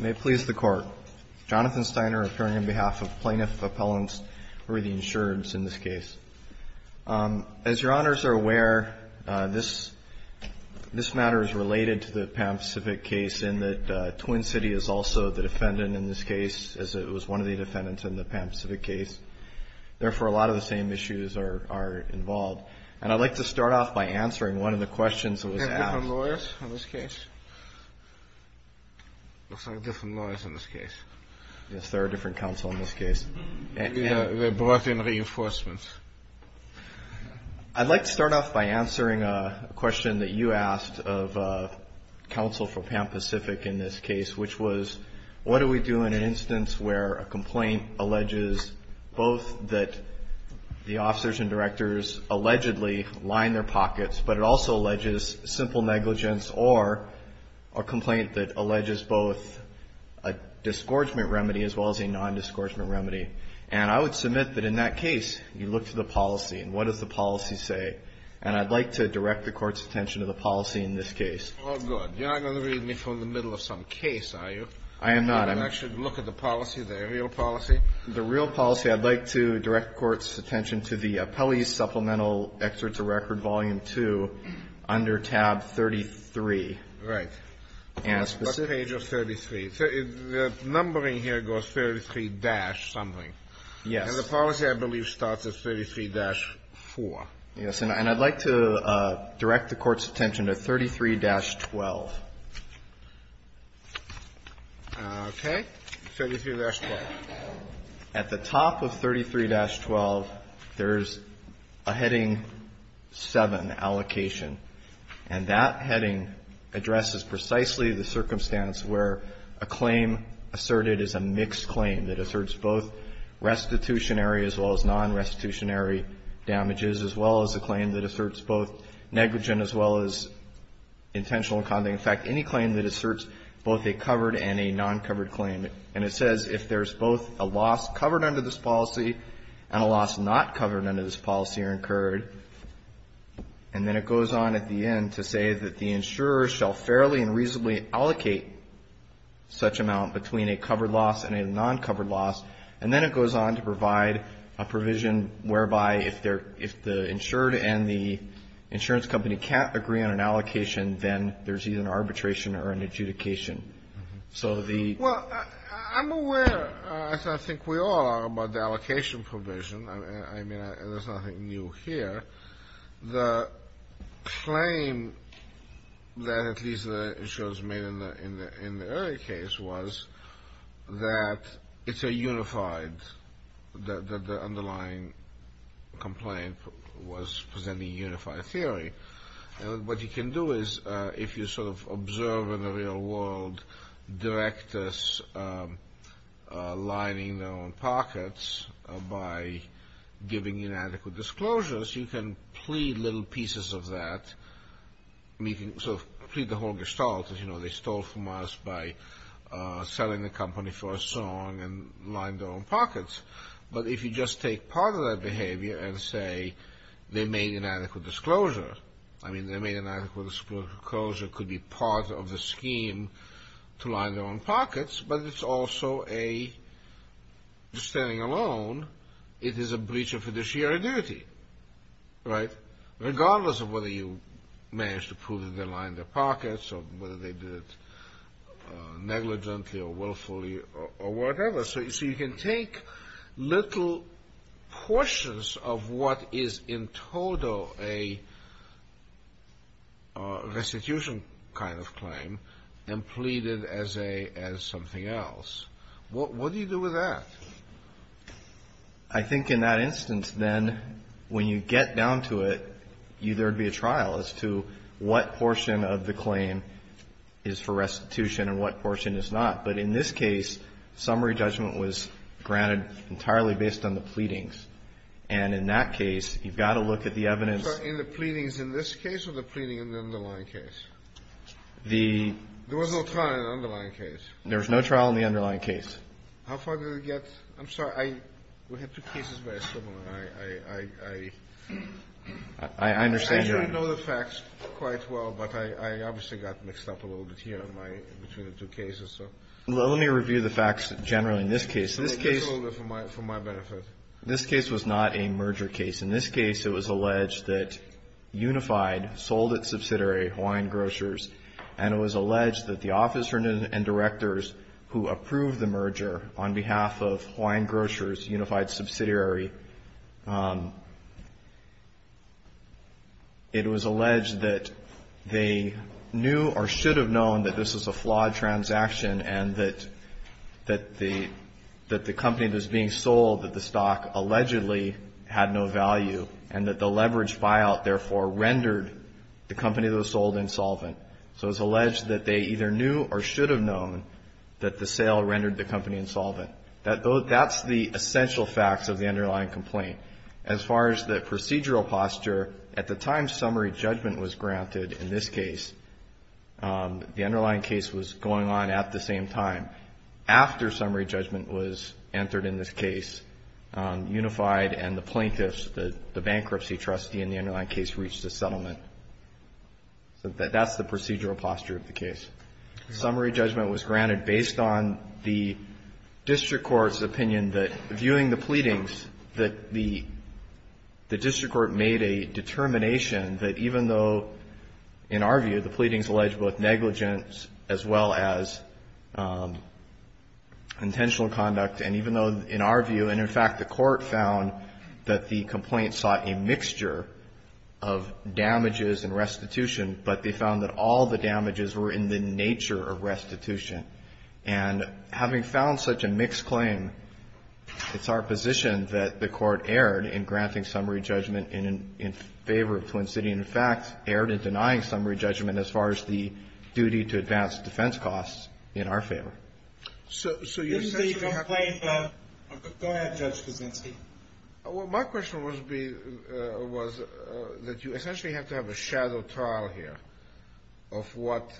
May it please the Court. Jonathan Steiner, appearing on behalf of Plaintiff Appellants for the Insurance in this case. As Your Honors are aware, this matter is related to the Pan Pacific case in that Twin City is also the defendant in this case, as it was one of the defendants in the Pan Pacific case. Therefore, a lot of the same issues are involved. And I'd like to start off by answering one of the questions that was asked. Are there different lawyers in this case? Yes, there are different counsel in this case. They brought in reinforcements. I'd like to start off by answering a question that you asked of counsel for Pan Pacific in this case, which was, what do we do in an instance where a complaint alleges both that the officers and directors allegedly line their pockets, but it also alleges simple negligence or a complaint that alleges both a disgorgement remedy as well as a nondisgorgement remedy? And I would submit that in that case, you look to the policy, and what does the policy say? And I'd like to direct the Court's attention to the policy in this case. Oh, good. You're not going to read me from the middle of some case, are you? I am not. You're not going to actually look at the policy, the real policy? The real policy. I'd like to direct the Court's attention to the Appellee's Supplemental Excerpt to Record, Volume 2, under tab 33. Right. And a specific page of 33. The numbering here goes 33-something. Yes. And the policy, I believe, starts at 33-4. Yes. And I'd like to direct the Court's attention to 33-12. Okay. 33-12. At the top of 33-12, there's a Heading 7 allocation. And that heading addresses precisely the circumstance where a claim asserted is a mixed claim that asserts both restitutionary as well as nonrestitutionary damages, as well as a claim that asserts both negligent as well as intentional condoning. In fact, any claim that asserts both a covered and a noncovered claim. And it says if there's both a loss covered under this policy and a loss not covered under this policy are incurred. And then it goes on at the end to say that the insurer shall fairly and reasonably allocate such amount between a covered loss and a noncovered loss. And then it goes on to provide a provision whereby if the insured and the insurance company can't agree on an allocation, then there's either an arbitration or an adjudication. So the ---- Well, I'm aware, as I think we all are, about the allocation provision. I mean, there's nothing new here. The claim that at least the insurance made in the early case was that it's a unified, that the underlying complaint was presenting unified theory. And what you can do is if you sort of observe in the real world directors lining their own pockets by giving inadequate disclosures, you can plead little pieces of that. I mean, you can sort of plead the whole gestalt that, you know, they stole from us by selling the company for a song and lined their own pockets. But if you just take part of that behavior and say they made inadequate disclosure, I mean, they made inadequate disclosure could be part of the scheme to line their own pockets, but it's also a, just standing alone, it is a breach of fiduciary duty, right? Regardless of whether you managed to prove that they lined their pockets or whether they did it negligently or willfully or whatever. So you can take little portions of what is in total a restitution kind of claim and plead it as something else. What do you do with that? I think in that instance, then, when you get down to it, there would be a trial as to what portion of the claim is for restitution and what portion is not. But in this case, summary judgment was granted entirely based on the pleadings. And in that case, you've got to look at the evidence. So in the pleadings in this case or the pleading in the underlying case? There was no trial in the underlying case. There was no trial in the underlying case. How far did it get? I'm sorry. We had two cases very similar. I actually know the facts quite well, but I obviously got mixed up a little bit here between the two cases. Let me review the facts generally in this case. This case was not a merger case. In this case, it was alleged that Unified sold its subsidiary, Hawaiian Grocers, and it was alleged that the officer and directors who approved the merger on behalf of Hawaiian Grocers, Unified's subsidiary, it was alleged that they knew or should have known that this was a flawed transaction and that the company that was being sold, that the stock allegedly had no value and that the leveraged buyout, therefore, rendered the company that was sold insolvent. So it was alleged that they either knew or should have known that the sale rendered the company insolvent. That's the essential facts of the underlying complaint. As far as the procedural posture, at the time summary judgment was granted in this case, the underlying case was going on at the same time. After summary judgment was entered in this case, Unified and the plaintiffs, the bankruptcy trustee in the underlying case, reached a settlement. So that's the procedural posture of the case. Summary judgment was granted based on the district court's opinion that, viewing the pleadings, that the district court made a determination that even though, in our view, the pleadings alleged both negligence as well as intentional conduct, and even though, in our view, and in fact, the court found that the complaint sought a mixture of damages and restitution, but they found that all the damages were in the nature of restitution. And having found such a mixed claim, it's our position that the court erred in granting summary judgment in favor of Twin City and, in fact, erred in denying summary judgment as far as the duty to advance defense costs in our favor. So you essentially have to be... This is a complaint of... Go ahead, Judge Kuczynski. My question was that you essentially have to have a shadow trial here of what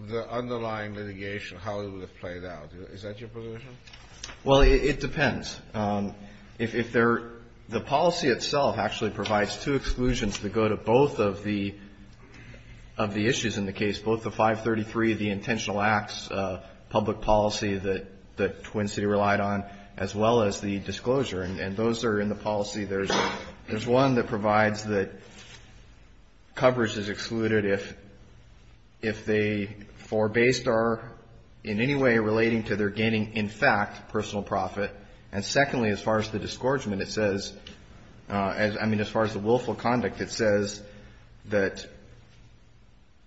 the underlying litigation, how it would have played out. Is that your position? Well, it depends. If there... The policy itself actually provides two exclusions that go to both of the issues in the case, both the 533, the intentional acts public policy that Twin City relied on, as well as the disclosure. And those are in the policy. There's one that provides that coverage is excluded if they, for based or in any way relating to their gaining, in fact, personal profit. And secondly, as far as the disgorgement, it says... I mean, as far as the willful conduct, it says that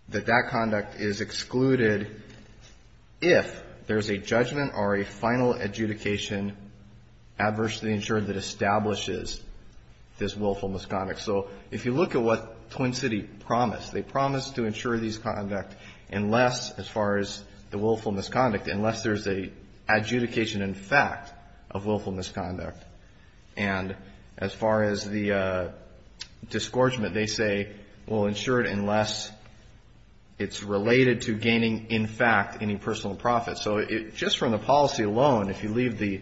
that conduct is excluded if there's a judgment or a final adjudication adversely insured that establishes this willful misconduct. So if you look at what Twin City promised, they promised to insure these conduct unless, as far as the willful misconduct, unless there's an adjudication in fact of willful misconduct. And as far as the disgorgement, they say, well, insure it unless it's related to gaining, in fact, any personal profit. So just from the policy alone, if you leave the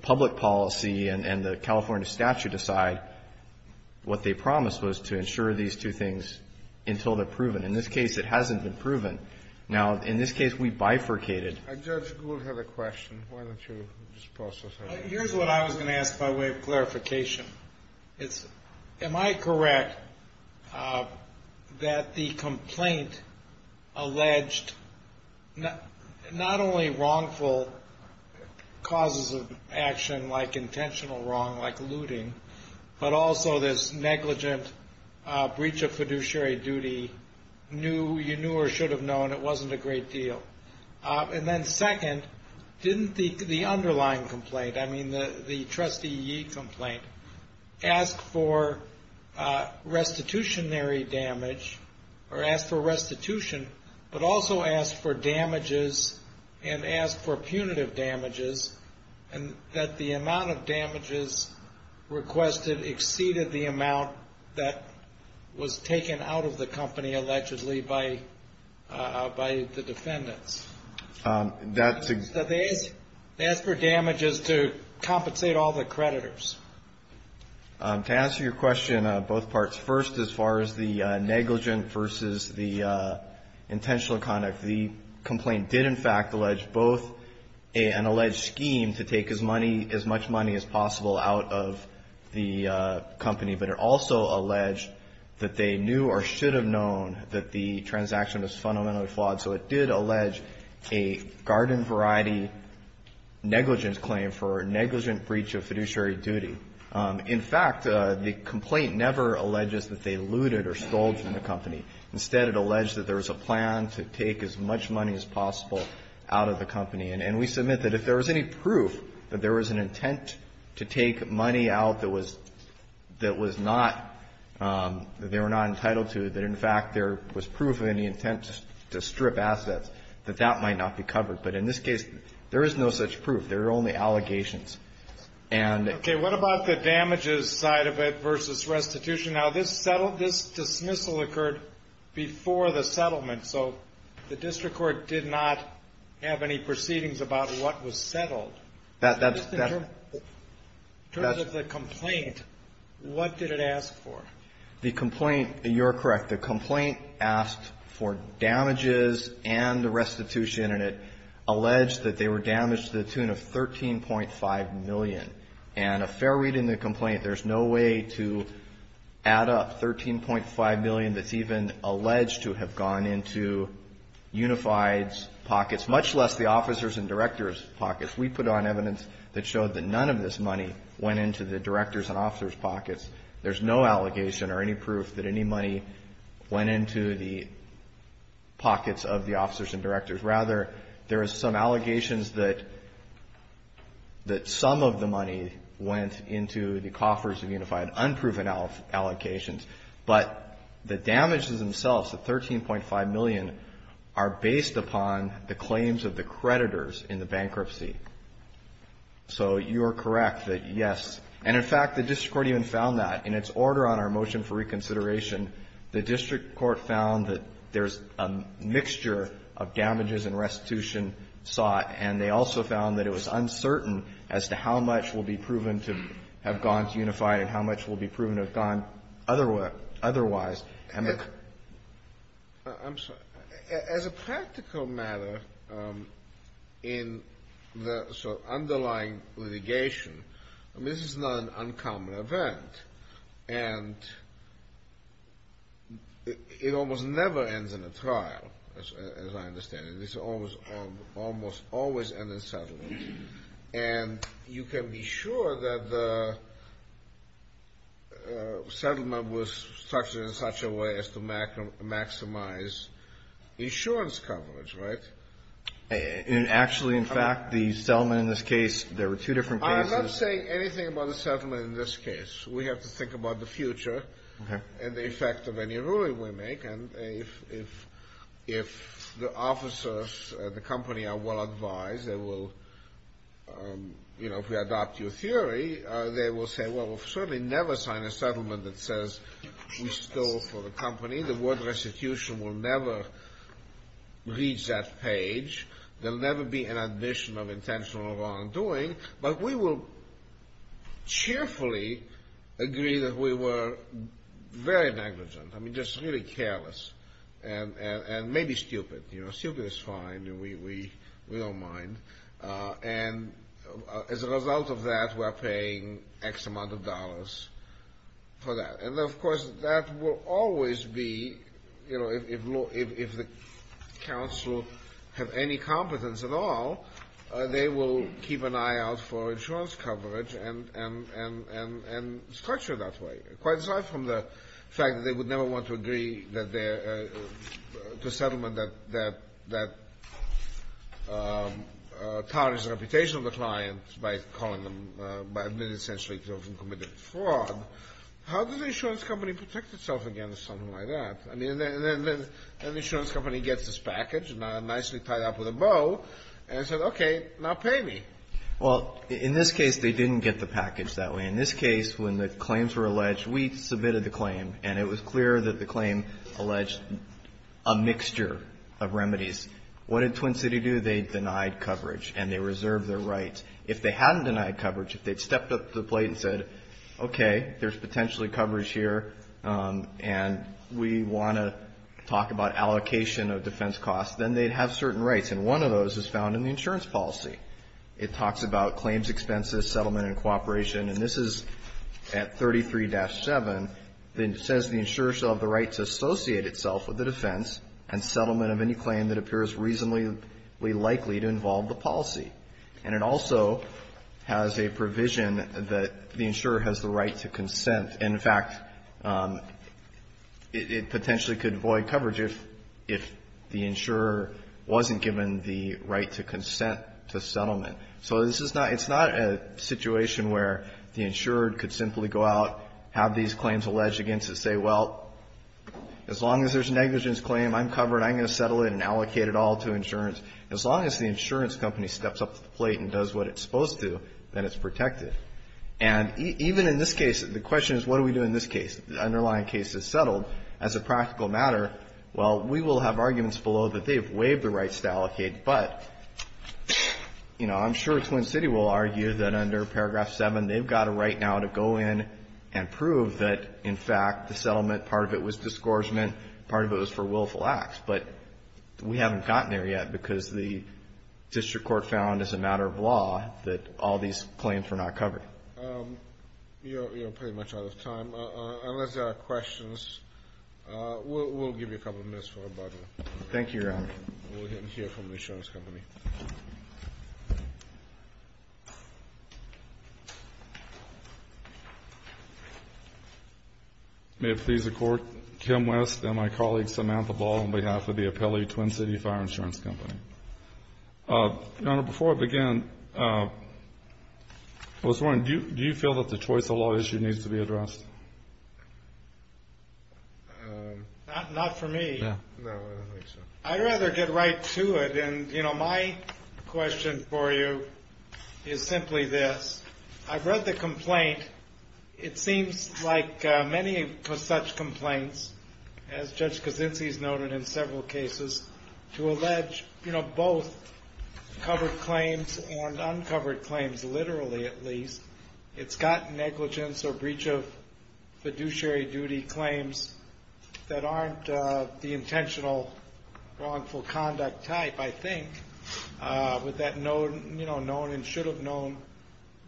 public policy and the California statute aside, what they promised was to insure these two things until they're proven. In this case, it hasn't been proven. Now, in this case, we bifurcated. Judge Gould had a question. Why don't you just process that? Here's what I was going to ask by way of clarification. Am I correct that the complaint alleged not only wrongful causes of action like intentional wrong, like looting, but also this negligent breach of fiduciary duty you knew or should have known it wasn't a great deal? And then second, didn't the underlying complaint, I mean the Trustee Yee complaint, ask for restitutionary damage or ask for restitution, but also ask for damages and ask for punitive damages and that the amount of damages requested exceeded the amount that was taken out of the company allegedly by the defendants? They asked for damages to compensate all the creditors. To answer your question on both parts, first, as far as the negligent versus the intentional conduct, the complaint did in fact allege both an alleged scheme to take as much money as possible out of the company, but it also alleged that they knew or should have known that the transaction was fundamentally flawed. So it did allege a garden variety negligent claim for negligent breach of fiduciary duty. In fact, the complaint never alleges that they looted or stole from the company. Instead, it alleged that there was a plan to take as much money as possible out of the company. And we submit that if there was any proof that there was an intent to take money out that was not, that they were not entitled to, that in fact there was proof of any intent to strip assets, that that might not be covered. But in this case, there is no such proof. There are only allegations. And ---- What about the damages side of it versus restitution? Now, this settled, this dismissal occurred before the settlement, so the district court did not have any proceedings about what was settled. That's ---- In terms of the complaint, what did it ask for? The complaint, you're correct, the complaint asked for damages and the restitution, and it alleged that they were damaged to the tune of $13.5 million. And a fair read in the complaint, there's no way to add up $13.5 million that's even alleged to have gone into Unified's pockets, much less the officers' and directors' pockets. We put on evidence that showed that none of this money went into the directors' and officers' pockets. There's no allegation or any proof that any money went into the pockets of the officers' and directors'. Rather, there are some allegations that some of the money went into the coffers of Unified, unproven allocations. But the damages themselves, the $13.5 million, are based upon the claims of the creditors in the bankruptcy. So you are correct that, yes. And in fact, the district court even found that. In its order on our motion for reconsideration, the district court found that there's a mixture of damages and restitution sought, and they also found that it was uncertain as to how much will be proven to have gone to Unified and how much will be proven to have gone otherwise. I'm sorry. As a practical matter, in the sort of underlying litigation, I mean, this is not an uncommon event. And it almost never ends in a trial, as I understand it. These almost always end in settlement. And you can be sure that the settlement was structured in such a way as to maximize insurance coverage, right? Actually, in fact, the settlement in this case, there were two different cases. I'm not saying anything about the settlement in this case. We have to think about the future and the effect of any ruling we make. And if the officers at the company are well advised, they will, you know, if we adopt your theory, they will say, well, we'll certainly never sign a settlement that says we stole from the company. The word restitution will never reach that page. There'll never be an admission of intentional wrongdoing. But we will cheerfully agree that we were very negligent. I mean, just really careless and maybe stupid. You know, stupid is fine. We don't mind. And as a result of that, we're paying X amount of dollars for that. And, of course, that will always be, you know, if the counsel have any competence at all, they will keep an eye out for insurance coverage and structure it that way. Quite aside from the fact that they would never want to agree to a settlement that tarnishes the reputation of the client by calling them, by admitting essentially to having committed fraud. How does an insurance company protect itself against something like that? I mean, an insurance company gets this package, nicely tied up with a bow, and says, okay, now pay me. Well, in this case, they didn't get the package that way. In this case, when the claims were alleged, we submitted the claim, and it was clear that the claim alleged a mixture of remedies. What did Twin City do? They denied coverage, and they reserved their rights. If they hadn't denied coverage, if they'd stepped up to the plate and said, okay, there's potentially coverage here, and we want to talk about allocation of defense costs, then they'd have certain rights. And one of those is found in the insurance policy. It talks about claims expenses, settlement, and cooperation. And this is at 33-7. It says the insurer shall have the right to associate itself with the defense and settlement of any claim that appears reasonably likely to involve the policy. And it also has a provision that the insurer has the right to consent. And, in fact, it potentially could void coverage if the insurer wasn't given the right to consent to settlement. So this is not – it's not a situation where the insurer could simply go out, have these claims alleged against it, say, well, as long as there's negligence claim, I'm covered. I'm going to settle it and allocate it all to insurance. As long as the insurance company steps up to the plate and does what it's supposed to, then it's protected. And even in this case, the question is, what do we do in this case? The underlying case is settled. As a practical matter, well, we will have arguments below that they've waived the rights to allocate. But, you know, I'm sure Twin City will argue that under paragraph 7, they've got a right now to go in and prove that, in fact, the settlement, part of it was disgorgement, part of it was for willful acts. But we haven't gotten there yet because the district court found as a matter of law that all these claims were not covered. You're pretty much out of time. Unless there are questions, we'll give you a couple of minutes for rebuttal. Thank you, Your Honor. We'll hear from the insurance company. May it please the Court. Kim West and my colleague, Samantha Ball, on behalf of the Apelli Twin City Fire Insurance Company. Your Honor, before I begin, I was wondering, do you feel that the choice of law issue needs to be addressed? Not for me. No, I don't think so. I'd rather get right to it. And, you know, my question for you is simply this. I've read the complaint. It seems like many such complaints, as Judge Kaczynski's noted in several cases, to allege, you know, both covered claims and uncovered claims, literally at least. It's got negligence or breach of fiduciary duty claims that aren't the intentional wrongful conduct type, I think, with that known and should have known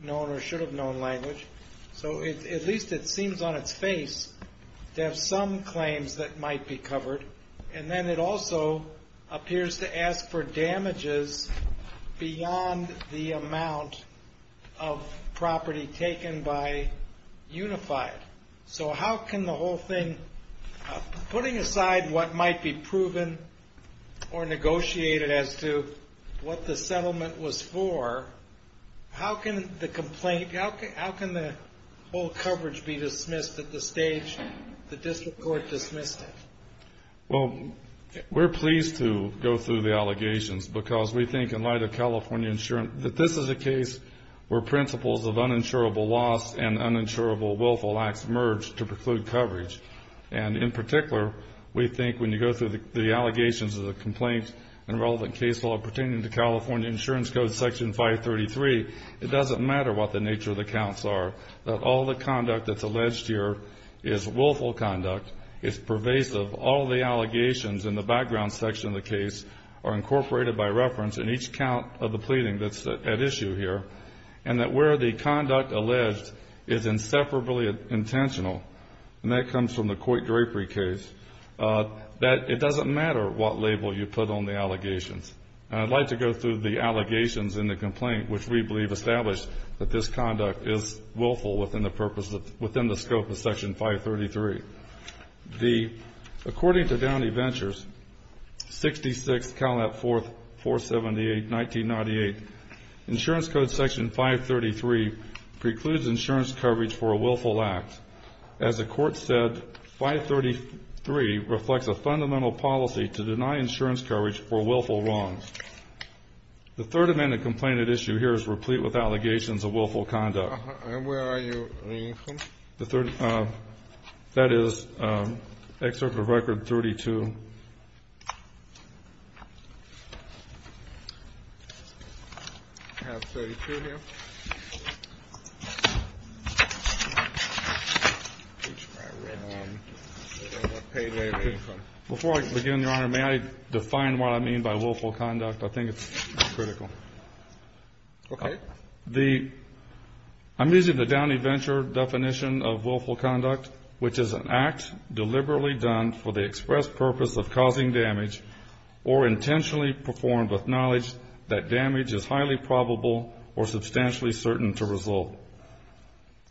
language. So at least it seems on its face to have some claims that might be covered. And then it also appears to ask for damages beyond the amount of property taken by Unified. So how can the whole thing, putting aside what might be proven or negotiated as to what the settlement was for, how can the complaint, how can the whole coverage be dismissed at the stage the district court dismissed it? Well, we're pleased to go through the allegations because we think, in light of California insurance, that this is a case where principles of uninsurable loss and uninsurable willful acts merge to preclude coverage. And in particular, we think when you go through the allegations of the complaint and relevant case law pertaining to California Insurance Code, Section 533, it doesn't matter what the nature of the counts are, that all the conduct that's alleged here is willful conduct, is pervasive. All the allegations in the background section of the case are incorporated by reference in each count of the pleading that's at issue here, and that where the conduct alleged is inseparably intentional, and that comes from the Coit Grapery case, that it doesn't matter what label you put on the allegations. And I'd like to go through the allegations in the complaint, which we believe establish that this conduct is willful within the purpose of, within the scope of Section 533. The, according to Downey Ventures, 66 CalNet 478, 1998, Insurance Code Section 533 precludes insurance coverage for a willful act. As the court said, Section 533 reflects a fundamental policy to deny insurance coverage for willful wrongs. The third amendment complaint at issue here is replete with allegations of willful conduct. And where are you reading from? The third, that is Excerpt of Record 32. I have 32 here. Before I begin, Your Honor, may I define what I mean by willful conduct? I think it's critical. Okay. The, I'm using the Downey Venture definition of willful conduct, which is an act deliberately done for the express purpose of causing damage or intentionally performed with knowledge that damage is highly probable or substantially certain to result.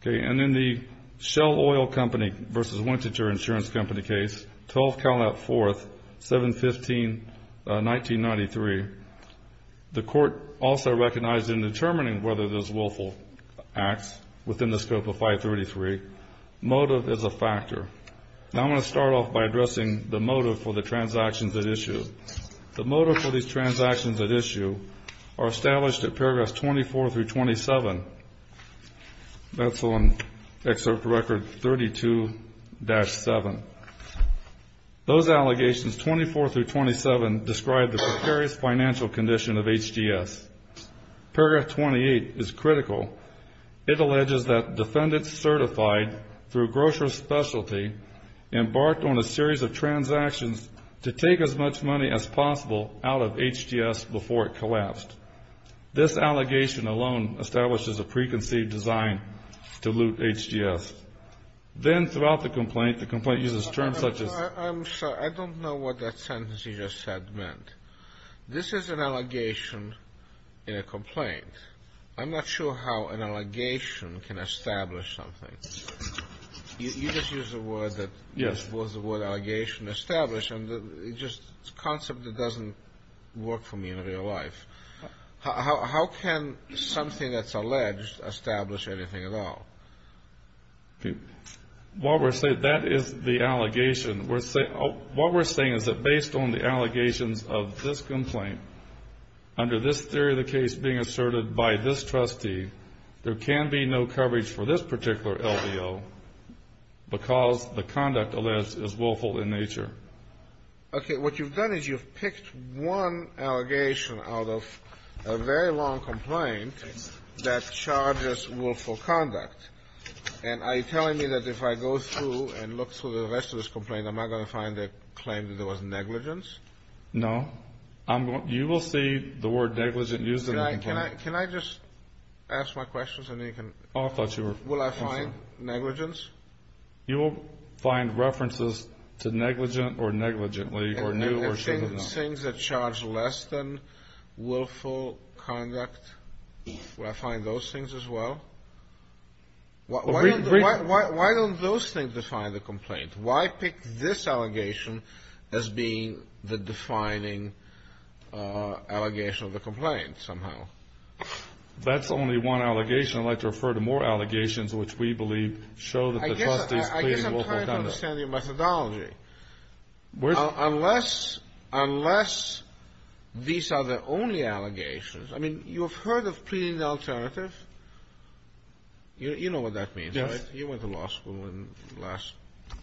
Okay. And in the Shell Oil Company versus Wintager Insurance Company case, 12 CalNet 4th, 715, 1993, the court also recognized in determining whether this willful acts within the Now I'm going to start off by addressing the motive for the transactions at issue. The motive for these transactions at issue are established at Paragraphs 24 through 27. That's on Excerpt of Record 32-7. Those allegations, 24 through 27, describe the precarious financial condition of HDS. Paragraph 28 is critical. It alleges that defendants certified through grocery specialty embarked on a series of transactions to take as much money as possible out of HDS before it collapsed. This allegation alone establishes a preconceived design to loot HDS. Then throughout the complaint, the complaint uses terms such as I'm sorry. I don't know what that sentence you just said meant. This is an allegation in a complaint. I'm not sure how an allegation can establish something. You just used a word that was the word allegation established. It's a concept that doesn't work for me in real life. How can something that's alleged establish anything at all? That is the allegation. What we're saying is that based on the allegations of this complaint, under this theory of the case being asserted by this trustee, there can be no coverage for this particular LBO because the conduct alleged is willful in nature. Okay. What you've done is you've picked one allegation out of a very long complaint that charges willful conduct. And are you telling me that if I go through and look through the rest of this complaint, I'm not going to find a claim that there was negligence? No. You will see the word negligent used in the complaint. Can I just ask my questions and then you can? Oh, I thought you were. Will I find negligence? You will find references to negligent or negligently or new or should have been. And things that charge less than willful conduct. Will I find those things as well? Why don't those things define the complaint? Why pick this allegation as being the defining allegation of the complaint somehow? If that's only one allegation, I'd like to refer to more allegations which we believe show that the trustee is pleading willful conduct. I guess I'm trying to understand your methodology. Unless these are the only allegations. I mean, you have heard of pleading the alternative. You know what that means, right? Yes. You went to law school in the last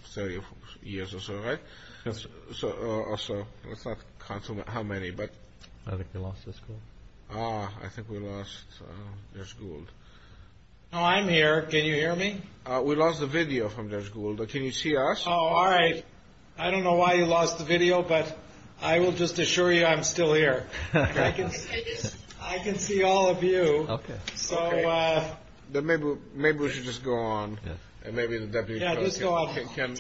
30 years or so, right? Yes. So let's not count how many, but. I think we lost the school. I think we lost Judge Gould. Oh, I'm here. Can you hear me? We lost the video from Judge Gould. Can you see us? Oh, all right. I don't know why you lost the video, but I will just assure you I'm still here. I can see all of you. Maybe we should just go on. Maybe the deputy attorney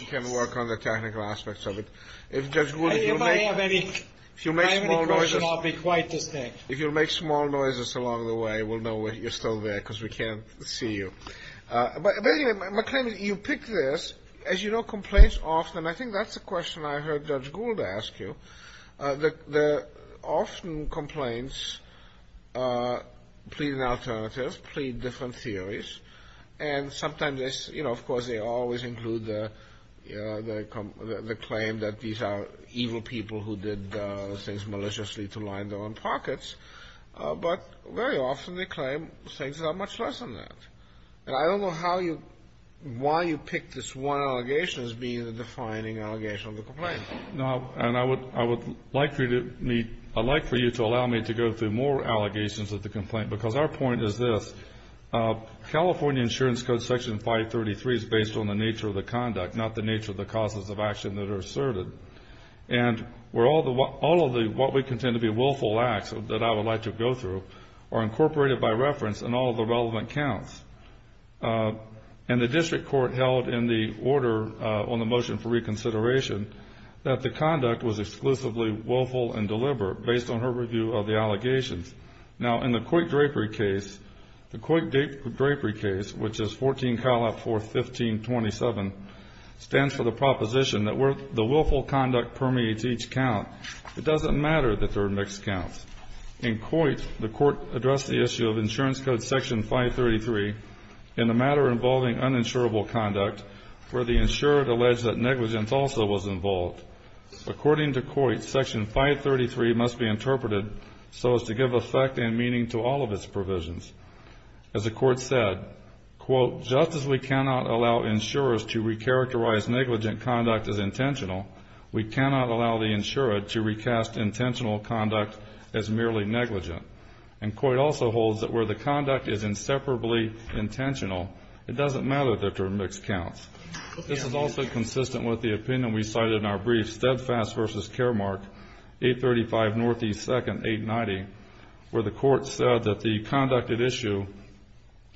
can work on the technical aspects of it. If Judge Gould, if you make small noises. If I have any questions, I'll be quite distinct. If you make small noises along the way, we'll know you're still there because we can't see you. But anyway, you picked this. As you know, complaints often, and I think that's a question I heard Judge Gould ask you, often complaints plead an alternative, plead different theories, and sometimes, of course, they always include the claim that these are evil people who did things maliciously to line their own pockets, but very often they claim things that are much less than that. And I don't know why you picked this one allegation as being the defining allegation of the complaint. And I would like for you to allow me to go through more allegations of the complaint because our point is this. California Insurance Code Section 533 is based on the nature of the conduct, not the nature of the causes of action that are asserted. And all of what we contend to be willful acts that I would like to go through are incorporated by reference in all of the relevant counts. And the district court held in the order on the motion for reconsideration that the conduct was exclusively willful and deliberate based on her review of the allegations. Now, in the Coit-Drapery case, the Coit-Drapery case, which is 14, 4, 15, 27, stands for the proposition that the willful conduct permeates each count. It doesn't matter that there are mixed counts. In Coit, the court addressed the issue of Insurance Code Section 533 in the matter involving uninsurable conduct where the insurer alleged that negligence also was involved. According to Coit, Section 533 must be interpreted so as to give effect and meaning to all of its provisions. As the court said, quote, just as we cannot allow insurers to recharacterize negligent conduct as intentional, we cannot allow the insurer to recast intentional conduct as merely negligent. And Coit also holds that where the conduct is inseparably intentional, it doesn't matter that there are mixed counts. This is also consistent with the opinion we cited in our brief, Steadfast v. Caremark, 835 Northeast 2nd, 890, where the court said that the conducted issue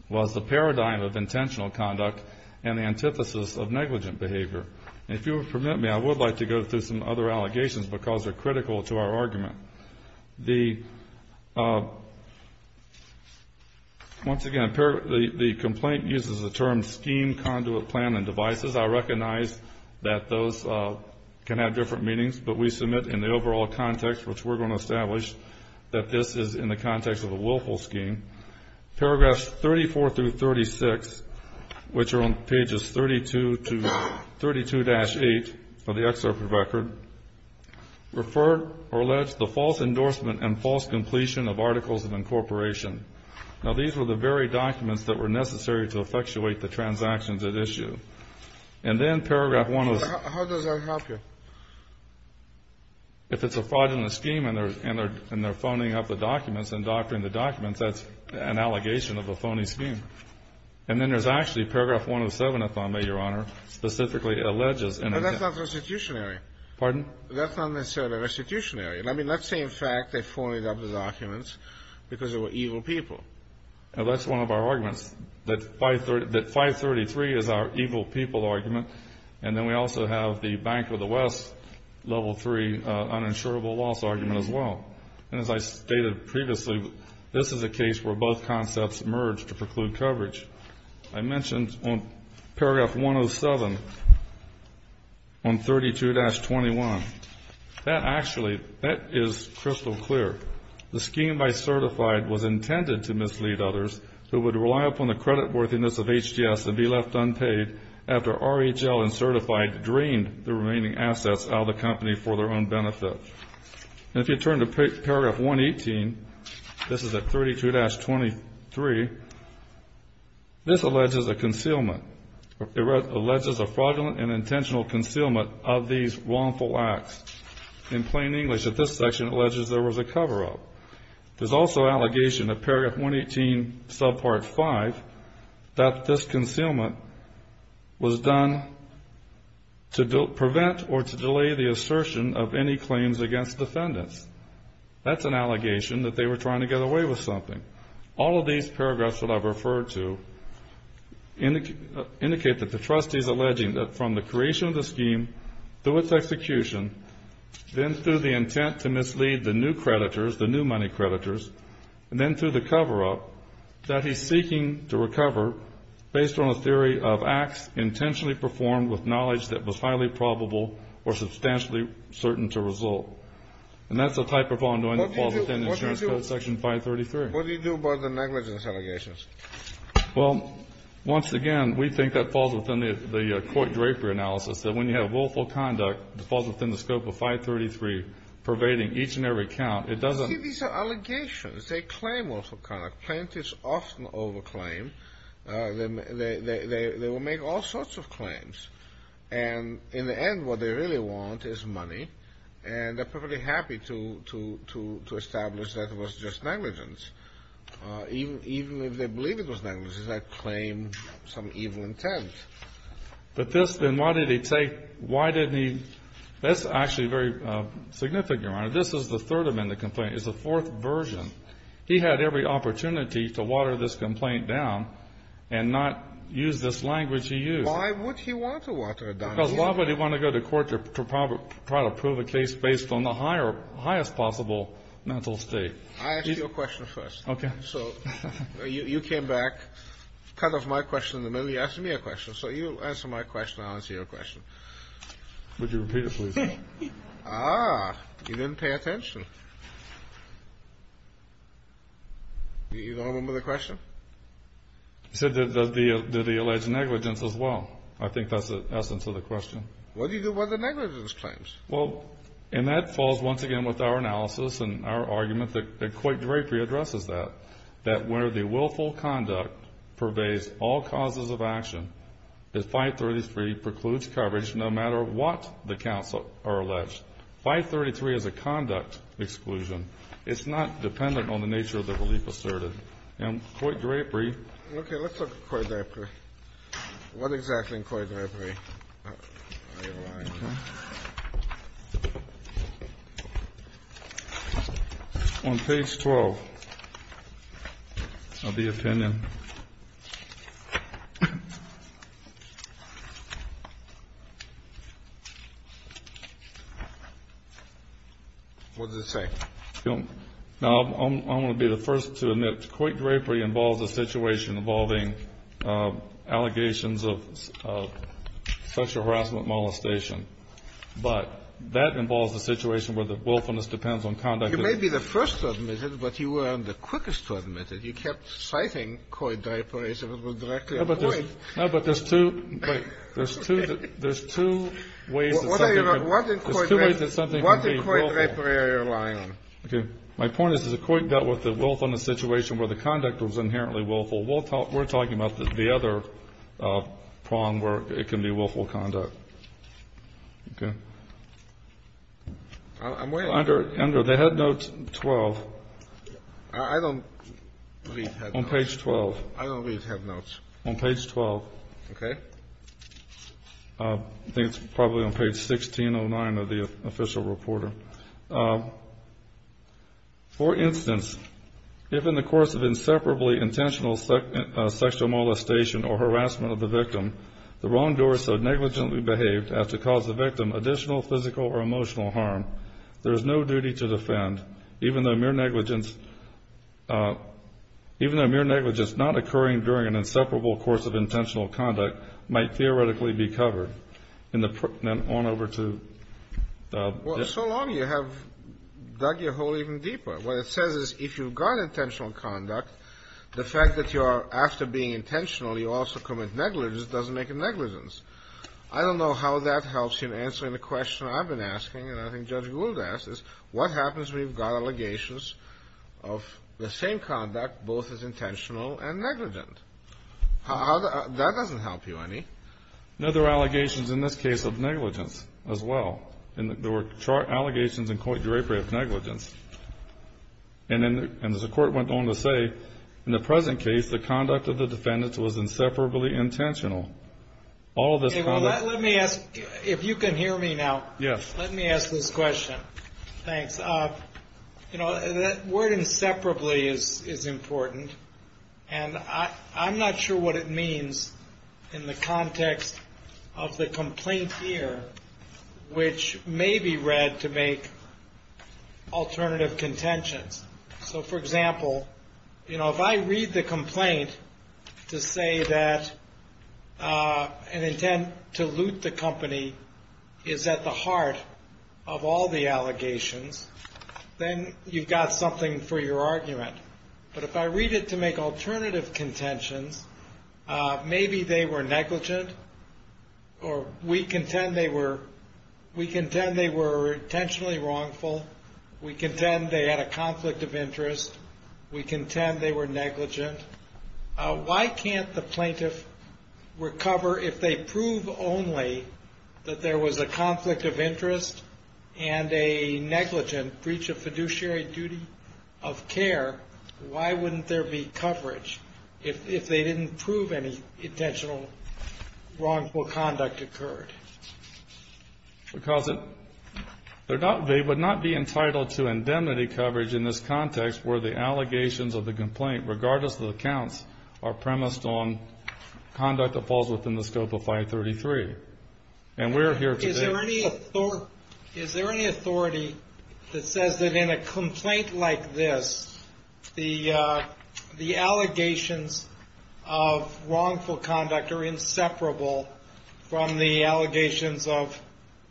was the paradigm of intentional conduct and the antithesis of negligent behavior. And if you will permit me, I would like to go through some other allegations because they're critical to our argument. Once again, the complaint uses the term scheme, conduit, plan, and devices. I recognize that those can have different meanings, but we submit in the overall context, which we're going to establish, that this is in the context of a willful scheme. Paragraphs 34 through 36, which are on pages 32 to 32-8 of the excerpt of record, refer or allege the false endorsement and false completion of articles of incorporation. Now, these were the very documents that were necessary to effectuate the transactions at issue. And then paragraph 1 of the… How does that help you? If it's a fraudulent scheme and they're phoning up the documents and doctoring the documents, that's an allegation of a phony scheme. And then there's actually paragraph 107, if I may, Your Honor, specifically alleges… But that's not restitutionary. Pardon? That's not necessarily restitutionary. I mean, let's say, in fact, they phoned up the documents because they were evil people. That's one of our arguments, that 533 is our evil people argument, and then we also have the Bank of the West Level III uninsurable loss argument as well. And as I stated previously, this is a case where both concepts merge to preclude coverage. I mentioned on paragraph 107 on 32-21, that actually, that is crystal clear. The scheme by Certified was intended to mislead others who would rely upon the creditworthiness of HDS and be left unpaid after RHL and Certified drained the remaining assets out of the company for their own benefit. And if you turn to paragraph 118, this is at 32-23, this alleges a concealment. It alleges a fraudulent and intentional concealment of these wrongful acts. In plain English, at this section, it alleges there was a cover-up. There's also allegation of paragraph 118, subpart 5, that this concealment was done to prevent or to delay the assertion of any claims against defendants. That's an allegation that they were trying to get away with something. All of these paragraphs that I've referred to indicate that the trustee is alleging that from the creation of the scheme through its execution, then through the intent to mislead the new creditors, the new money creditors, and then through the cover-up, that he's seeking to recover based on a theory of acts intentionally performed with knowledge that was highly probable or substantially certain to result. And that's the type of ongoing that falls within the insurance code section 533. What do you do about the negligence allegations? Well, once again, we think that falls within the court-draper analysis, that when you have willful conduct that falls within the scope of 533 pervading each and every count, it doesn't See, these are allegations. They claim willful conduct. Plaintiffs often over-claim. They will make all sorts of claims. And in the end, what they really want is money. And they're perfectly happy to establish that it was just negligence. Even if they believe it was negligence, they claim some evil intent. But this, then, why did he take, why didn't he, that's actually a very significant one. This is the third amendment complaint. It's the fourth version. He had every opportunity to water this complaint down and not use this language he used. Why would he want to water it down? Because why would he want to go to court to try to prove a case based on the highest possible mental state? I asked you a question first. Okay. So you came back, cut off my question in the middle, you asked me a question. So you answer my question, I'll answer your question. Would you repeat it, please? Ah, you didn't pay attention. You don't remember the question? He said did he allege negligence as well. I think that's the essence of the question. What do you do about the negligence claims? Well, and that falls once again with our analysis and our argument that Coit Drapery addresses that, that where the willful conduct pervades all causes of action, that 533 precludes coverage no matter what the counts are alleged. 533 is a conduct exclusion. It's not dependent on the nature of the relief asserted. And Coit Drapery ---- Okay. Let's look at Coit Drapery. What exactly in Coit Drapery are your lines? Okay. On page 12 of the opinion. What does it say? Now, I'm going to be the first to admit Coit Drapery involves a situation involving allegations of sexual harassment, molestation. But that involves a situation where the willfulness depends on conduct ---- You may be the first to admit it, but you were the quickest to admit it. You kept citing Coit Drapery as if it were directly avoided. No, but there's two ---- There's two ways that something can be willful. What did Coit Drapery rely on? Okay. My point is that Coit dealt with the willfulness situation where the conduct was inherently willful. We're talking about the other prong where it can be willful conduct. Okay. I'm waiting. Under the head notes 12. I don't read head notes. On page 12. I don't read head notes. On page 12. Okay. I think it's probably on page 1609 of the official reporter. For instance, if in the course of inseparably intentional sexual molestation or harassment of the victim, the wrongdoer so negligently behaved as to cause the victim additional physical or emotional harm, there is no duty to defend, even though mere negligence not occurring during an inseparable course of intentional conduct might theoretically be covered. And then on over to ---- Well, so long you have dug your hole even deeper. What it says is if you've got intentional conduct, the fact that you are, after being intentional, you also commit negligence doesn't make it negligence. I don't know how that helps in answering the question I've been asking, and I think Judge Gould asked, is what happens when you've got allegations of the same conduct, both as intentional and negligent? That doesn't help you any. No, there are allegations in this case of negligence as well. There were allegations in court of derogatory negligence. And as the court went on to say, in the present case, the conduct of the defendants was inseparably intentional. All of this ---- Let me ask, if you can hear me now, let me ask this question. Thanks. You know, that word inseparably is important, and I'm not sure what it means in the context of the complaint here, which may be read to make alternative contentions. So, for example, you know, if I read the complaint to say that an intent to loot the company is at the heart of all the allegations, then you've got something for your argument. But if I read it to make alternative contentions, maybe they were negligent, or we contend they were intentionally wrongful, we contend they had a conflict of interest, we contend they were negligent. Why can't the plaintiff recover if they prove only that there was a conflict of interest? Why wouldn't there be coverage if they didn't prove any intentional wrongful conduct occurred? Because they would not be entitled to indemnity coverage in this context where the allegations of the complaint, regardless of the counts, are premised on conduct that falls within the scope of 533. And we're here today. Is there any authority that says that in a complaint like this, the allegations of wrongful conduct are inseparable from the allegations of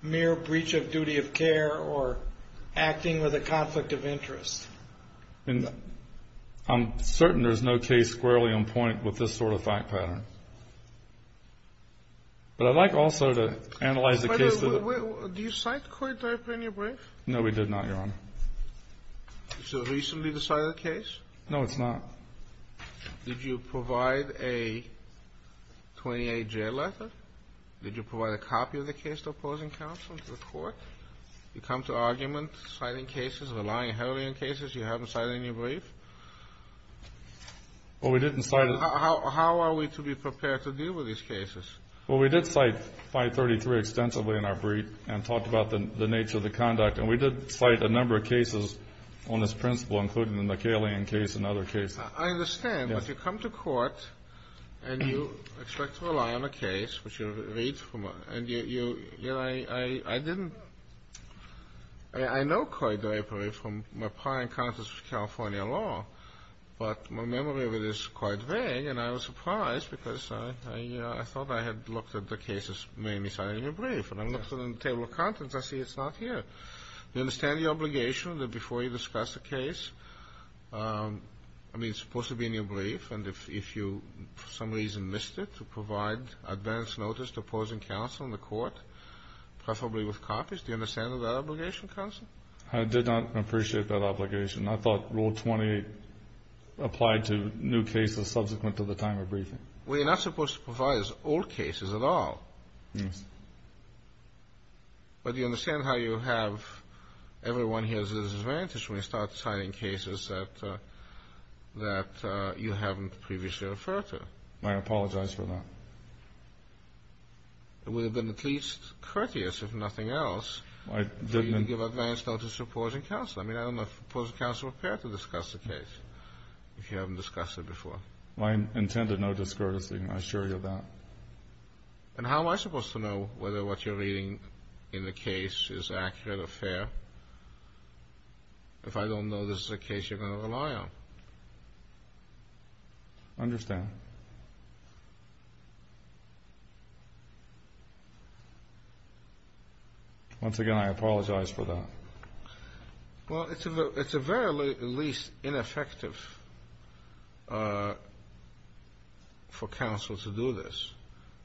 mere breach of duty of care or acting with a conflict of interest? I'm certain there's no case squarely on point with this sort of fact pattern. But I'd like also to analyze the case... Wait, wait, wait. Do you cite court type in your brief? No, we did not, Your Honor. Is it a recently decided case? No, it's not. Did you provide a 28-J letter? Did you provide a copy of the case to opposing counsel, to the court? You come to argument, citing cases, relying heavily on cases you haven't cited in your brief? Well, we didn't cite... How are we to be prepared to deal with these cases? Well, we did cite 533 extensively in our brief and talked about the nature of the conduct. And we did cite a number of cases on this principle, including the McAlean case and other cases. I understand. Yes. But you come to court and you expect to rely on a case, which you read from a... And you, you know, I didn't... I know Coy Drapery from my prior encounters with California law. But my memory of it is quite vague. And I was surprised because I thought I had looked at the cases mainly cited in your brief. And I looked at it in the table of contents. I see it's not here. Do you understand the obligation that before you discuss a case, I mean, it's supposed to be in your brief. And if you for some reason missed it, to provide advance notice to opposing counsel in the court, preferably with copies, do you understand that obligation, counsel? I did not appreciate that obligation. I thought Rule 28 applied to new cases subsequent to the time of briefing. Well, you're not supposed to provide us old cases at all. Yes. But do you understand how you have everyone here as a disadvantage when you start citing cases that you haven't previously referred to? I apologize for that. It would have been at least courteous, if nothing else, for you to give advance notice to opposing counsel. I mean, I don't know if opposing counsel would care to discuss the case if you haven't discussed it before. My intent is no discourtesy. I assure you of that. And how am I supposed to know whether what you're reading in the case is accurate or fair if I don't know this is a case you're going to rely on? Understand. Once again, I apologize for that. Well, it's at the very least ineffective for counsel to do this,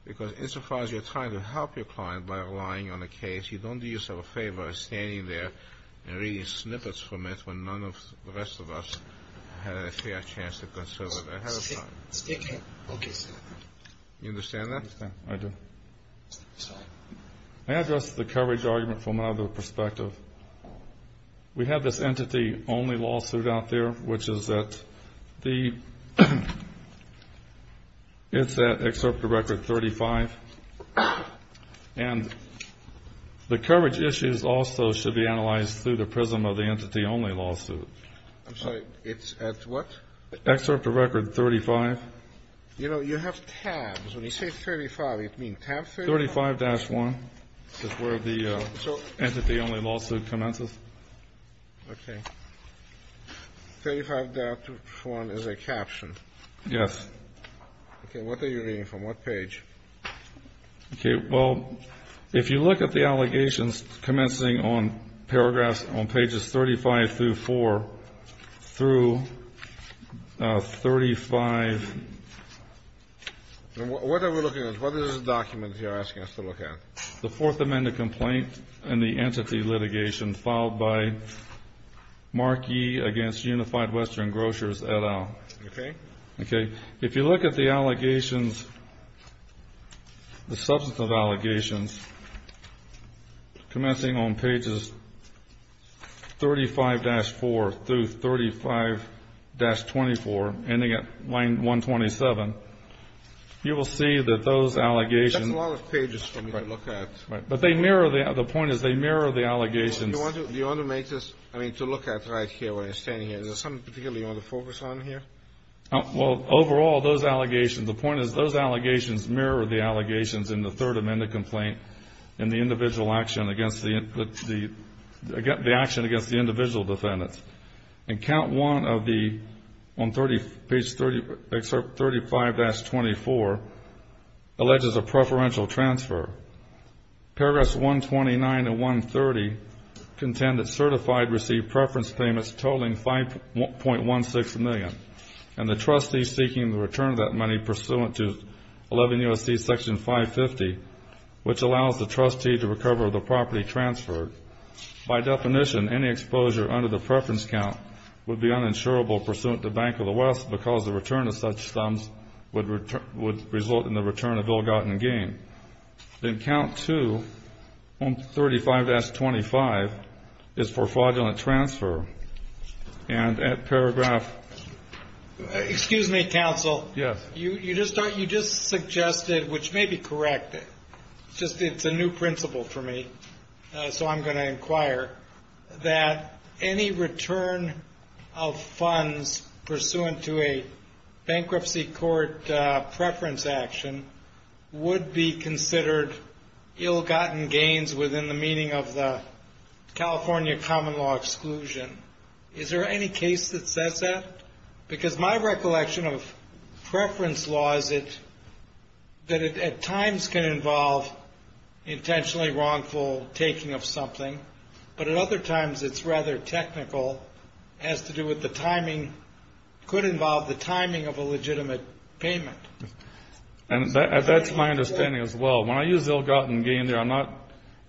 because insofar as you're trying to help your client by relying on a case, you don't do yourself a favor of standing there and reading snippets from it when none of the rest of us had a fair chance to consider it ahead of time. Okay, Senator. You understand that? I do. Sorry. May I address the coverage argument from another perspective? We have this entity-only lawsuit out there, which is at the excerpt of Record 35. And the coverage issues also should be analyzed through the prism of the entity-only lawsuit. I'm sorry. It's at what? Excerpt of Record 35. You know, you have tabs. When you say 35, you mean tab 35? 35-1 is where the entity-only lawsuit commences. Okay. 35-1 is a caption. Yes. Okay. What are you reading from? What page? Okay. Well, if you look at the allegations commencing on paragraphs on pages 35 through 4 through 35. What are we looking at? What is the document you're asking us to look at? The Fourth Amendment complaint and the entity litigation filed by Mark Yee against Unified Western Grocers, et al. Okay. Okay. If you look at the allegations, the substantive allegations commencing on pages 35-4 through 35-24 ending at line 127, you will see that those allegations. That's a lot of pages for me to look at. Right. But they mirror the other point is they mirror the allegations. Do you want to make this, I mean, to look at right here where you're standing here? Is there something particularly you want to focus on here? Well, overall, those allegations, the point is those allegations mirror the allegations in the Third Amendment complaint and the individual action against the individual defendants. And count one of the, on page 35-24, alleges a preferential transfer. Paragraphs 129 and 130 contend that certified received preference payments totaling $5.16 million and the trustee seeking the return of that money pursuant to 11 U.S.C. Section 550, which allows the trustee to recover the property transferred. By definition, any exposure under the preference count would be uninsurable pursuant to Bank of the West because the return of such sums would result in the return of ill-gotten gain. Then count two, on 35-25, is for fraudulent transfer. And at paragraph... Excuse me, counsel. Yes. You just suggested, which may be correct, just it's a new principle for me. So I'm going to inquire that any return of funds pursuant to a bankruptcy court preference action would be considered ill-gotten gains within the meaning of the California common law exclusion. Is there any case that says that? Because my recollection of preference law is that it at times can involve intentionally wrongful taking of something, but at other times it's rather technical, has to do with the timing, could involve the timing of a legitimate payment. And that's my understanding as well. When I use ill-gotten gain there, I'm not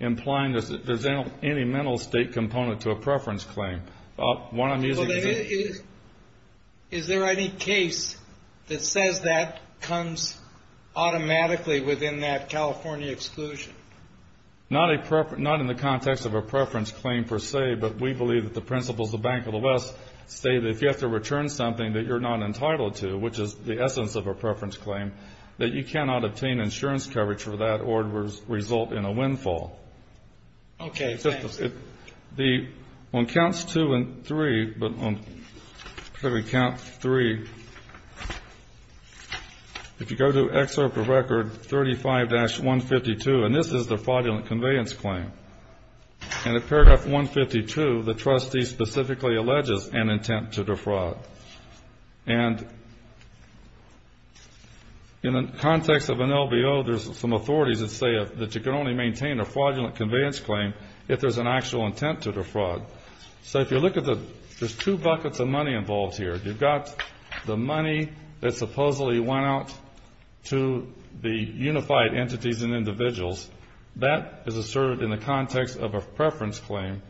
implying that there's any mental state component to a preference claim. Is there any case that says that comes automatically within that California exclusion? Not in the context of a preference claim per se, but we believe that the principles of the Bank of the West say that if you have to return something that you're not entitled to, which is the essence of a preference claim, that you cannot obtain insurance coverage for that or result in a windfall. Okay, thanks. On counts two and three, if you go to excerpt of record 35-152, and this is the fraudulent conveyance claim. In the paragraph 152, the trustee specifically alleges an intent to defraud. And in the context of an LBO, there's some authorities that say that you can only maintain a fraudulent conveyance claim if there's an actual intent to defraud. So if you look at the, there's two buckets of money involved here. You've got the money that supposedly went out to the unified entities and individuals. That is asserted in the context of a preference claim.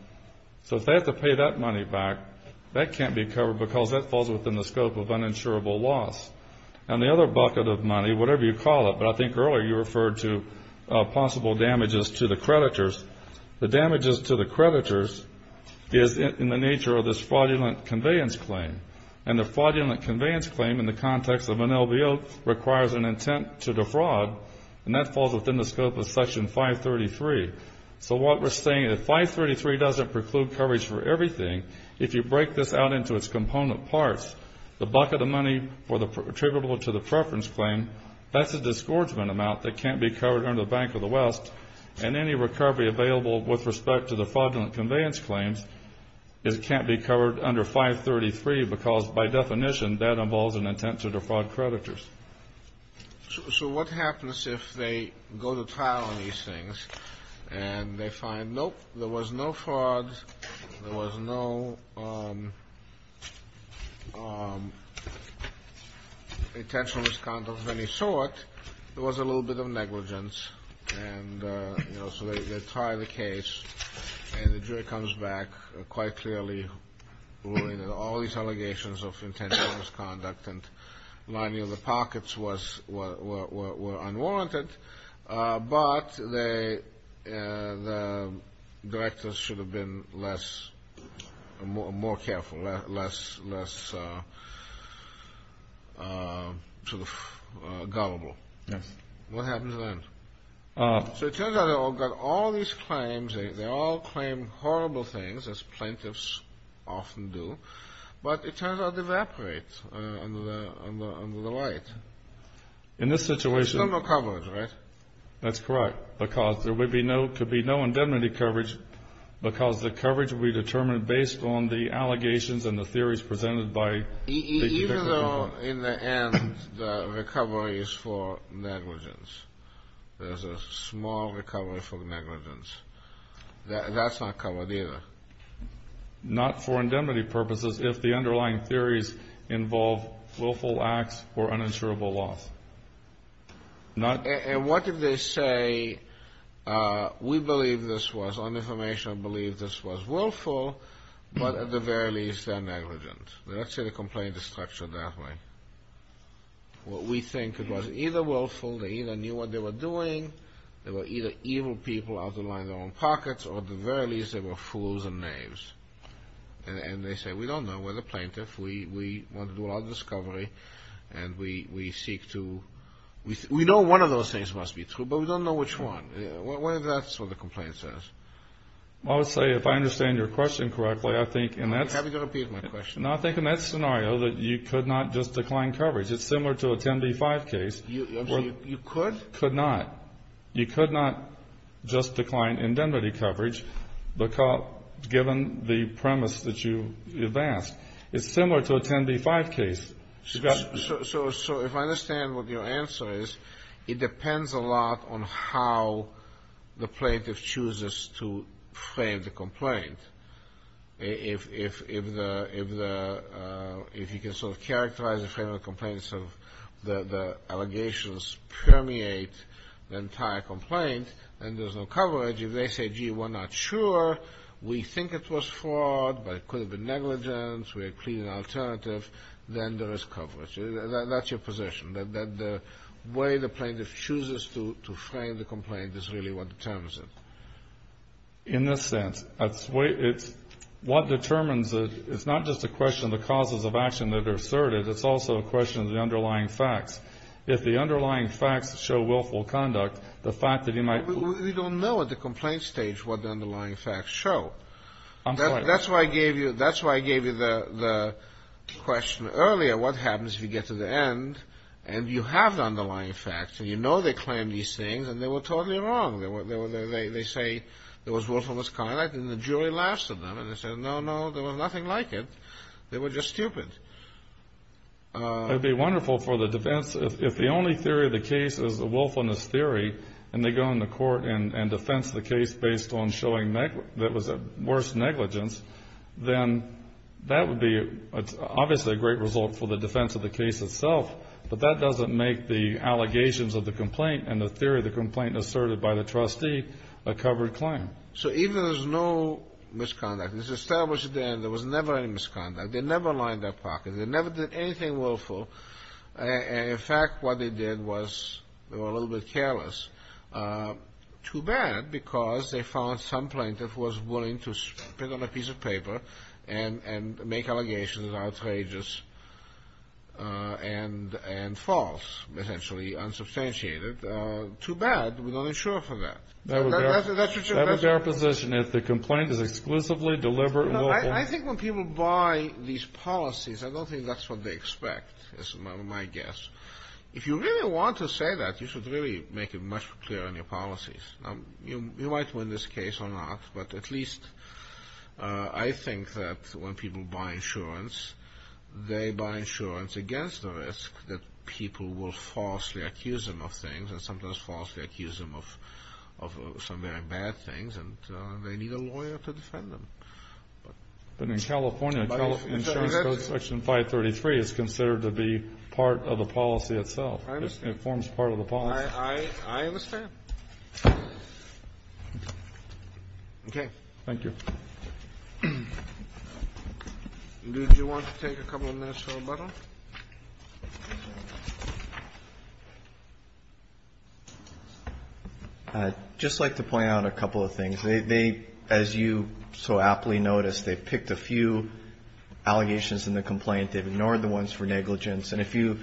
So if they have to pay that money back, that can't be covered, because that falls within the scope of uninsurable loss. And the other bucket of money, whatever you call it, but I think earlier you referred to possible damages to the creditors. The damages to the creditors is in the nature of this fraudulent conveyance claim. And the fraudulent conveyance claim in the context of an LBO requires an intent to defraud, and that falls within the scope of Section 533. So what we're saying, if 533 doesn't preclude coverage for everything, if you break this out into its component parts, the bucket of money attributable to the preference claim, that's a disgorgement amount that can't be covered under the Bank of the West, and any recovery available with respect to the fraudulent conveyance claims can't be covered under 533, because by definition that involves an intent to defraud creditors. So what happens if they go to trial on these things and they find, nope, there was no fraud, there was no intentional misconduct of any sort, there was a little bit of negligence, and so they try the case and the jury comes back quite clearly ruling that all these allegations of intentional misconduct and lining of the pockets were unwarranted, but the directors should have been less, more careful, less sort of gullible. Yes. What happens then? So it turns out that all these claims, they all claim horrible things, as plaintiffs often do, but it turns out they evaporate under the light. In this situation... There's no more coverage, right? That's correct, because there could be no indemnity coverage, because the coverage will be determined based on the allegations and the theories presented by... Even though in the end the recovery is for negligence, there's a small recovery for negligence, that's not covered either. Not for indemnity purposes if the underlying theories involve willful acts or uninsurable loss. And what if they say, we believe this was uninformational, believe this was willful, but at the very least they're negligent. Let's say the complaint is structured that way. What we think it was either willful, they either knew what they were doing, they were either evil people out to line their own pockets, or at the very least they were fools and knaves. And they say, we don't know, we're the plaintiff, we want to do our own discovery, and we seek to... We know one of those things must be true, but we don't know which one. That's what the complaint says. I would say, if I understand your question correctly, I think... I'm happy to repeat my question. No, I think in that scenario that you could not just decline coverage. It's similar to a 10b-5 case. You could? Could not. You could not just decline indemnity coverage, given the premise that you've asked. It's similar to a 10b-5 case. So if I understand what your answer is, it depends a lot on how the plaintiff chooses to frame the complaint. If you can sort of characterize and frame the complaint so that the allegations permeate the entire complaint, then there's no coverage. If they say, gee, we're not sure, we think it was fraud, but it could have been negligence, we're pleading an alternative, then there is coverage. That's your position, that the way the plaintiff chooses to frame the complaint is really what determines it. In this sense, it's what determines it. It's not just a question of the causes of action that are asserted. It's also a question of the underlying facts. If the underlying facts show willful conduct, the fact that you might... We don't know at the complaint stage what the underlying facts show. That's why I gave you the question earlier, what happens if you get to the end and you have the underlying facts and you know they claim these things and they were totally wrong. They say there was willfulness conduct and the jury laughs at them and they say, no, no, there was nothing like it. They were just stupid. It would be wonderful for the defense. If the only theory of the case is the willfulness theory and they go into court and defense the case based on showing that it was a worse negligence, then that would be obviously a great result for the defense of the case itself, but that doesn't make the allegations of the complaint and the theory of the complaint asserted by the trustee a covered claim. So even if there's no misconduct, it's established at the end there was never any misconduct. They never lined their pockets. They never did anything willful. In fact, what they did was they were a little bit careless. Too bad because they found some plaintiff was willing to spit on a piece of paper and make allegations that are outrageous and false, essentially unsubstantiated. Too bad. We're not insured for that. That would be our position if the complaint is exclusively deliberate and willful. I think when people buy these policies, I don't think that's what they expect is my guess. If you really want to say that, you should really make it much clearer in your policies. You might win this case or not, but at least I think that when people buy insurance, they buy insurance against the risk that people will falsely accuse them of things and sometimes falsely accuse them of some very bad things, and they need a lawyer to defend them. But in California, insurance code section 533 is considered to be part of the policy itself. It forms part of the policy. I understand. Okay. Thank you. Do you want to take a couple of minutes for rebuttal? I'd just like to point out a couple of things. They, as you so aptly noticed, they picked a few allegations in the complaint. They've ignored the ones for negligence. And if you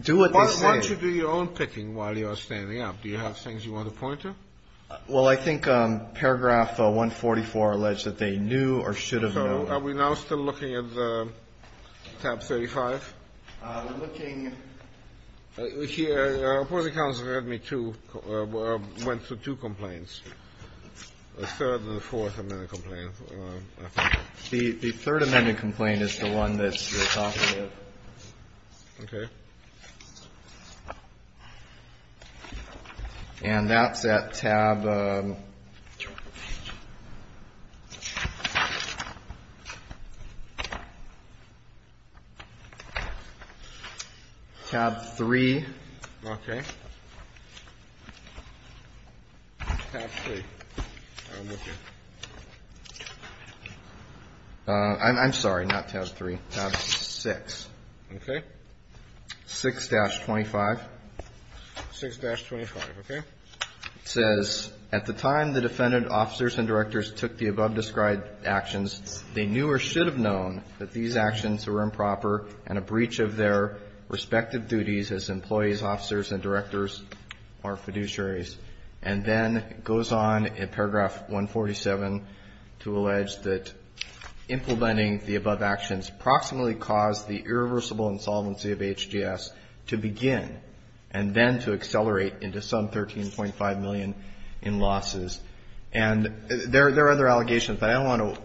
do what they say. Why don't you do your own picking while you are standing up? Do you have things you want to point to? Well, I think paragraph 144 alleged that they knew or should have known. So are we now still looking at tab 35? We're looking. The opposing counsel heard me, too, went through two complaints, a third and a fourth amendment complaint, I think. The third amendment complaint is the one that you're talking about. Okay. And that's at tab three. Okay. Tab three. I'm looking. I'm sorry. Not tab three. Tab six. Okay. 6-25. 6-25. Okay. It says, At the time the defendant officers and directors took the above-described actions, they knew or should have known that these actions were improper and a breach of their respective duties as employees, officers, and directors or fiduciaries and then goes on in paragraph 147 to allege that implementing the above actions approximately caused the irreversible insolvency of HGS to begin and then to accelerate into some $13.5 million in losses. And there are other allegations, but I don't want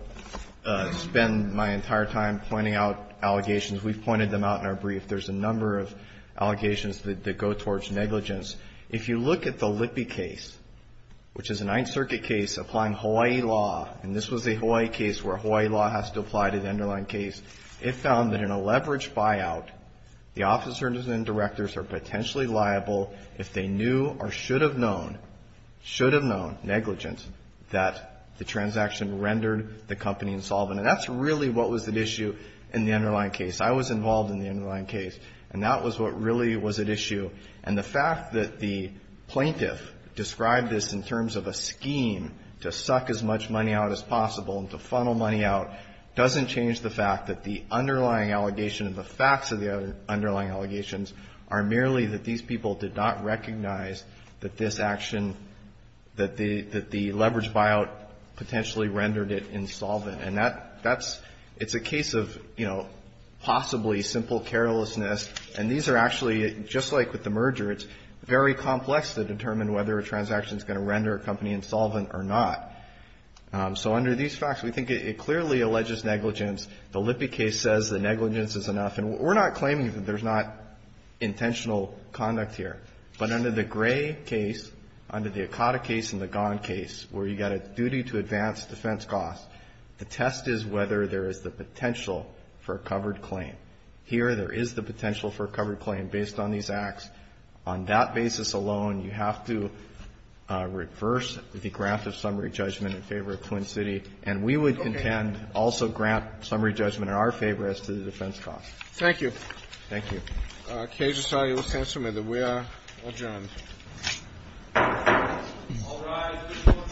to spend my entire time pointing out allegations. We've pointed them out in our brief. There's a number of allegations that go towards negligence. If you look at the Lippe case, which is a Ninth Circuit case applying Hawaii law, and this was a Hawaii case where Hawaii law has to apply to the underlying case, it found that in a leveraged buyout, the officers and directors are potentially liable if they knew or should have known, should have known, negligence, that the transaction rendered the company insolvent. And that's really what was at issue in the underlying case. I was involved in the underlying case, and that was what really was at issue. And the fact that the plaintiff described this in terms of a scheme to suck as much money out as possible and to funnel money out doesn't change the fact that the underlying allegation and the facts of the underlying allegations are merely that these people did not recognize that this action, that the leveraged buyout potentially rendered it insolvent. And that's, it's a case of, you know, possibly simple carelessness. And these are actually, just like with the merger, it's very complex to determine whether a transaction is going to render a company insolvent or not. So under these facts, we think it clearly alleges negligence. The Lippe case says that negligence is enough. And we're not claiming that there's not intentional conduct here. But under the Gray case, under the Akata case and the Gan case, where you've got a duty to advance defense costs, the test is whether there is the potential for a covered claim. Here, there is the potential for a covered claim based on these acts. On that basis alone, you have to reverse the grant of summary judgment in favor of Twin City. And we would contend also grant summary judgment in our favor as to the defense costs. Thank you. Thank you. All right. Case is signed. We are adjourned. All rise. The court for this session stands adjourned.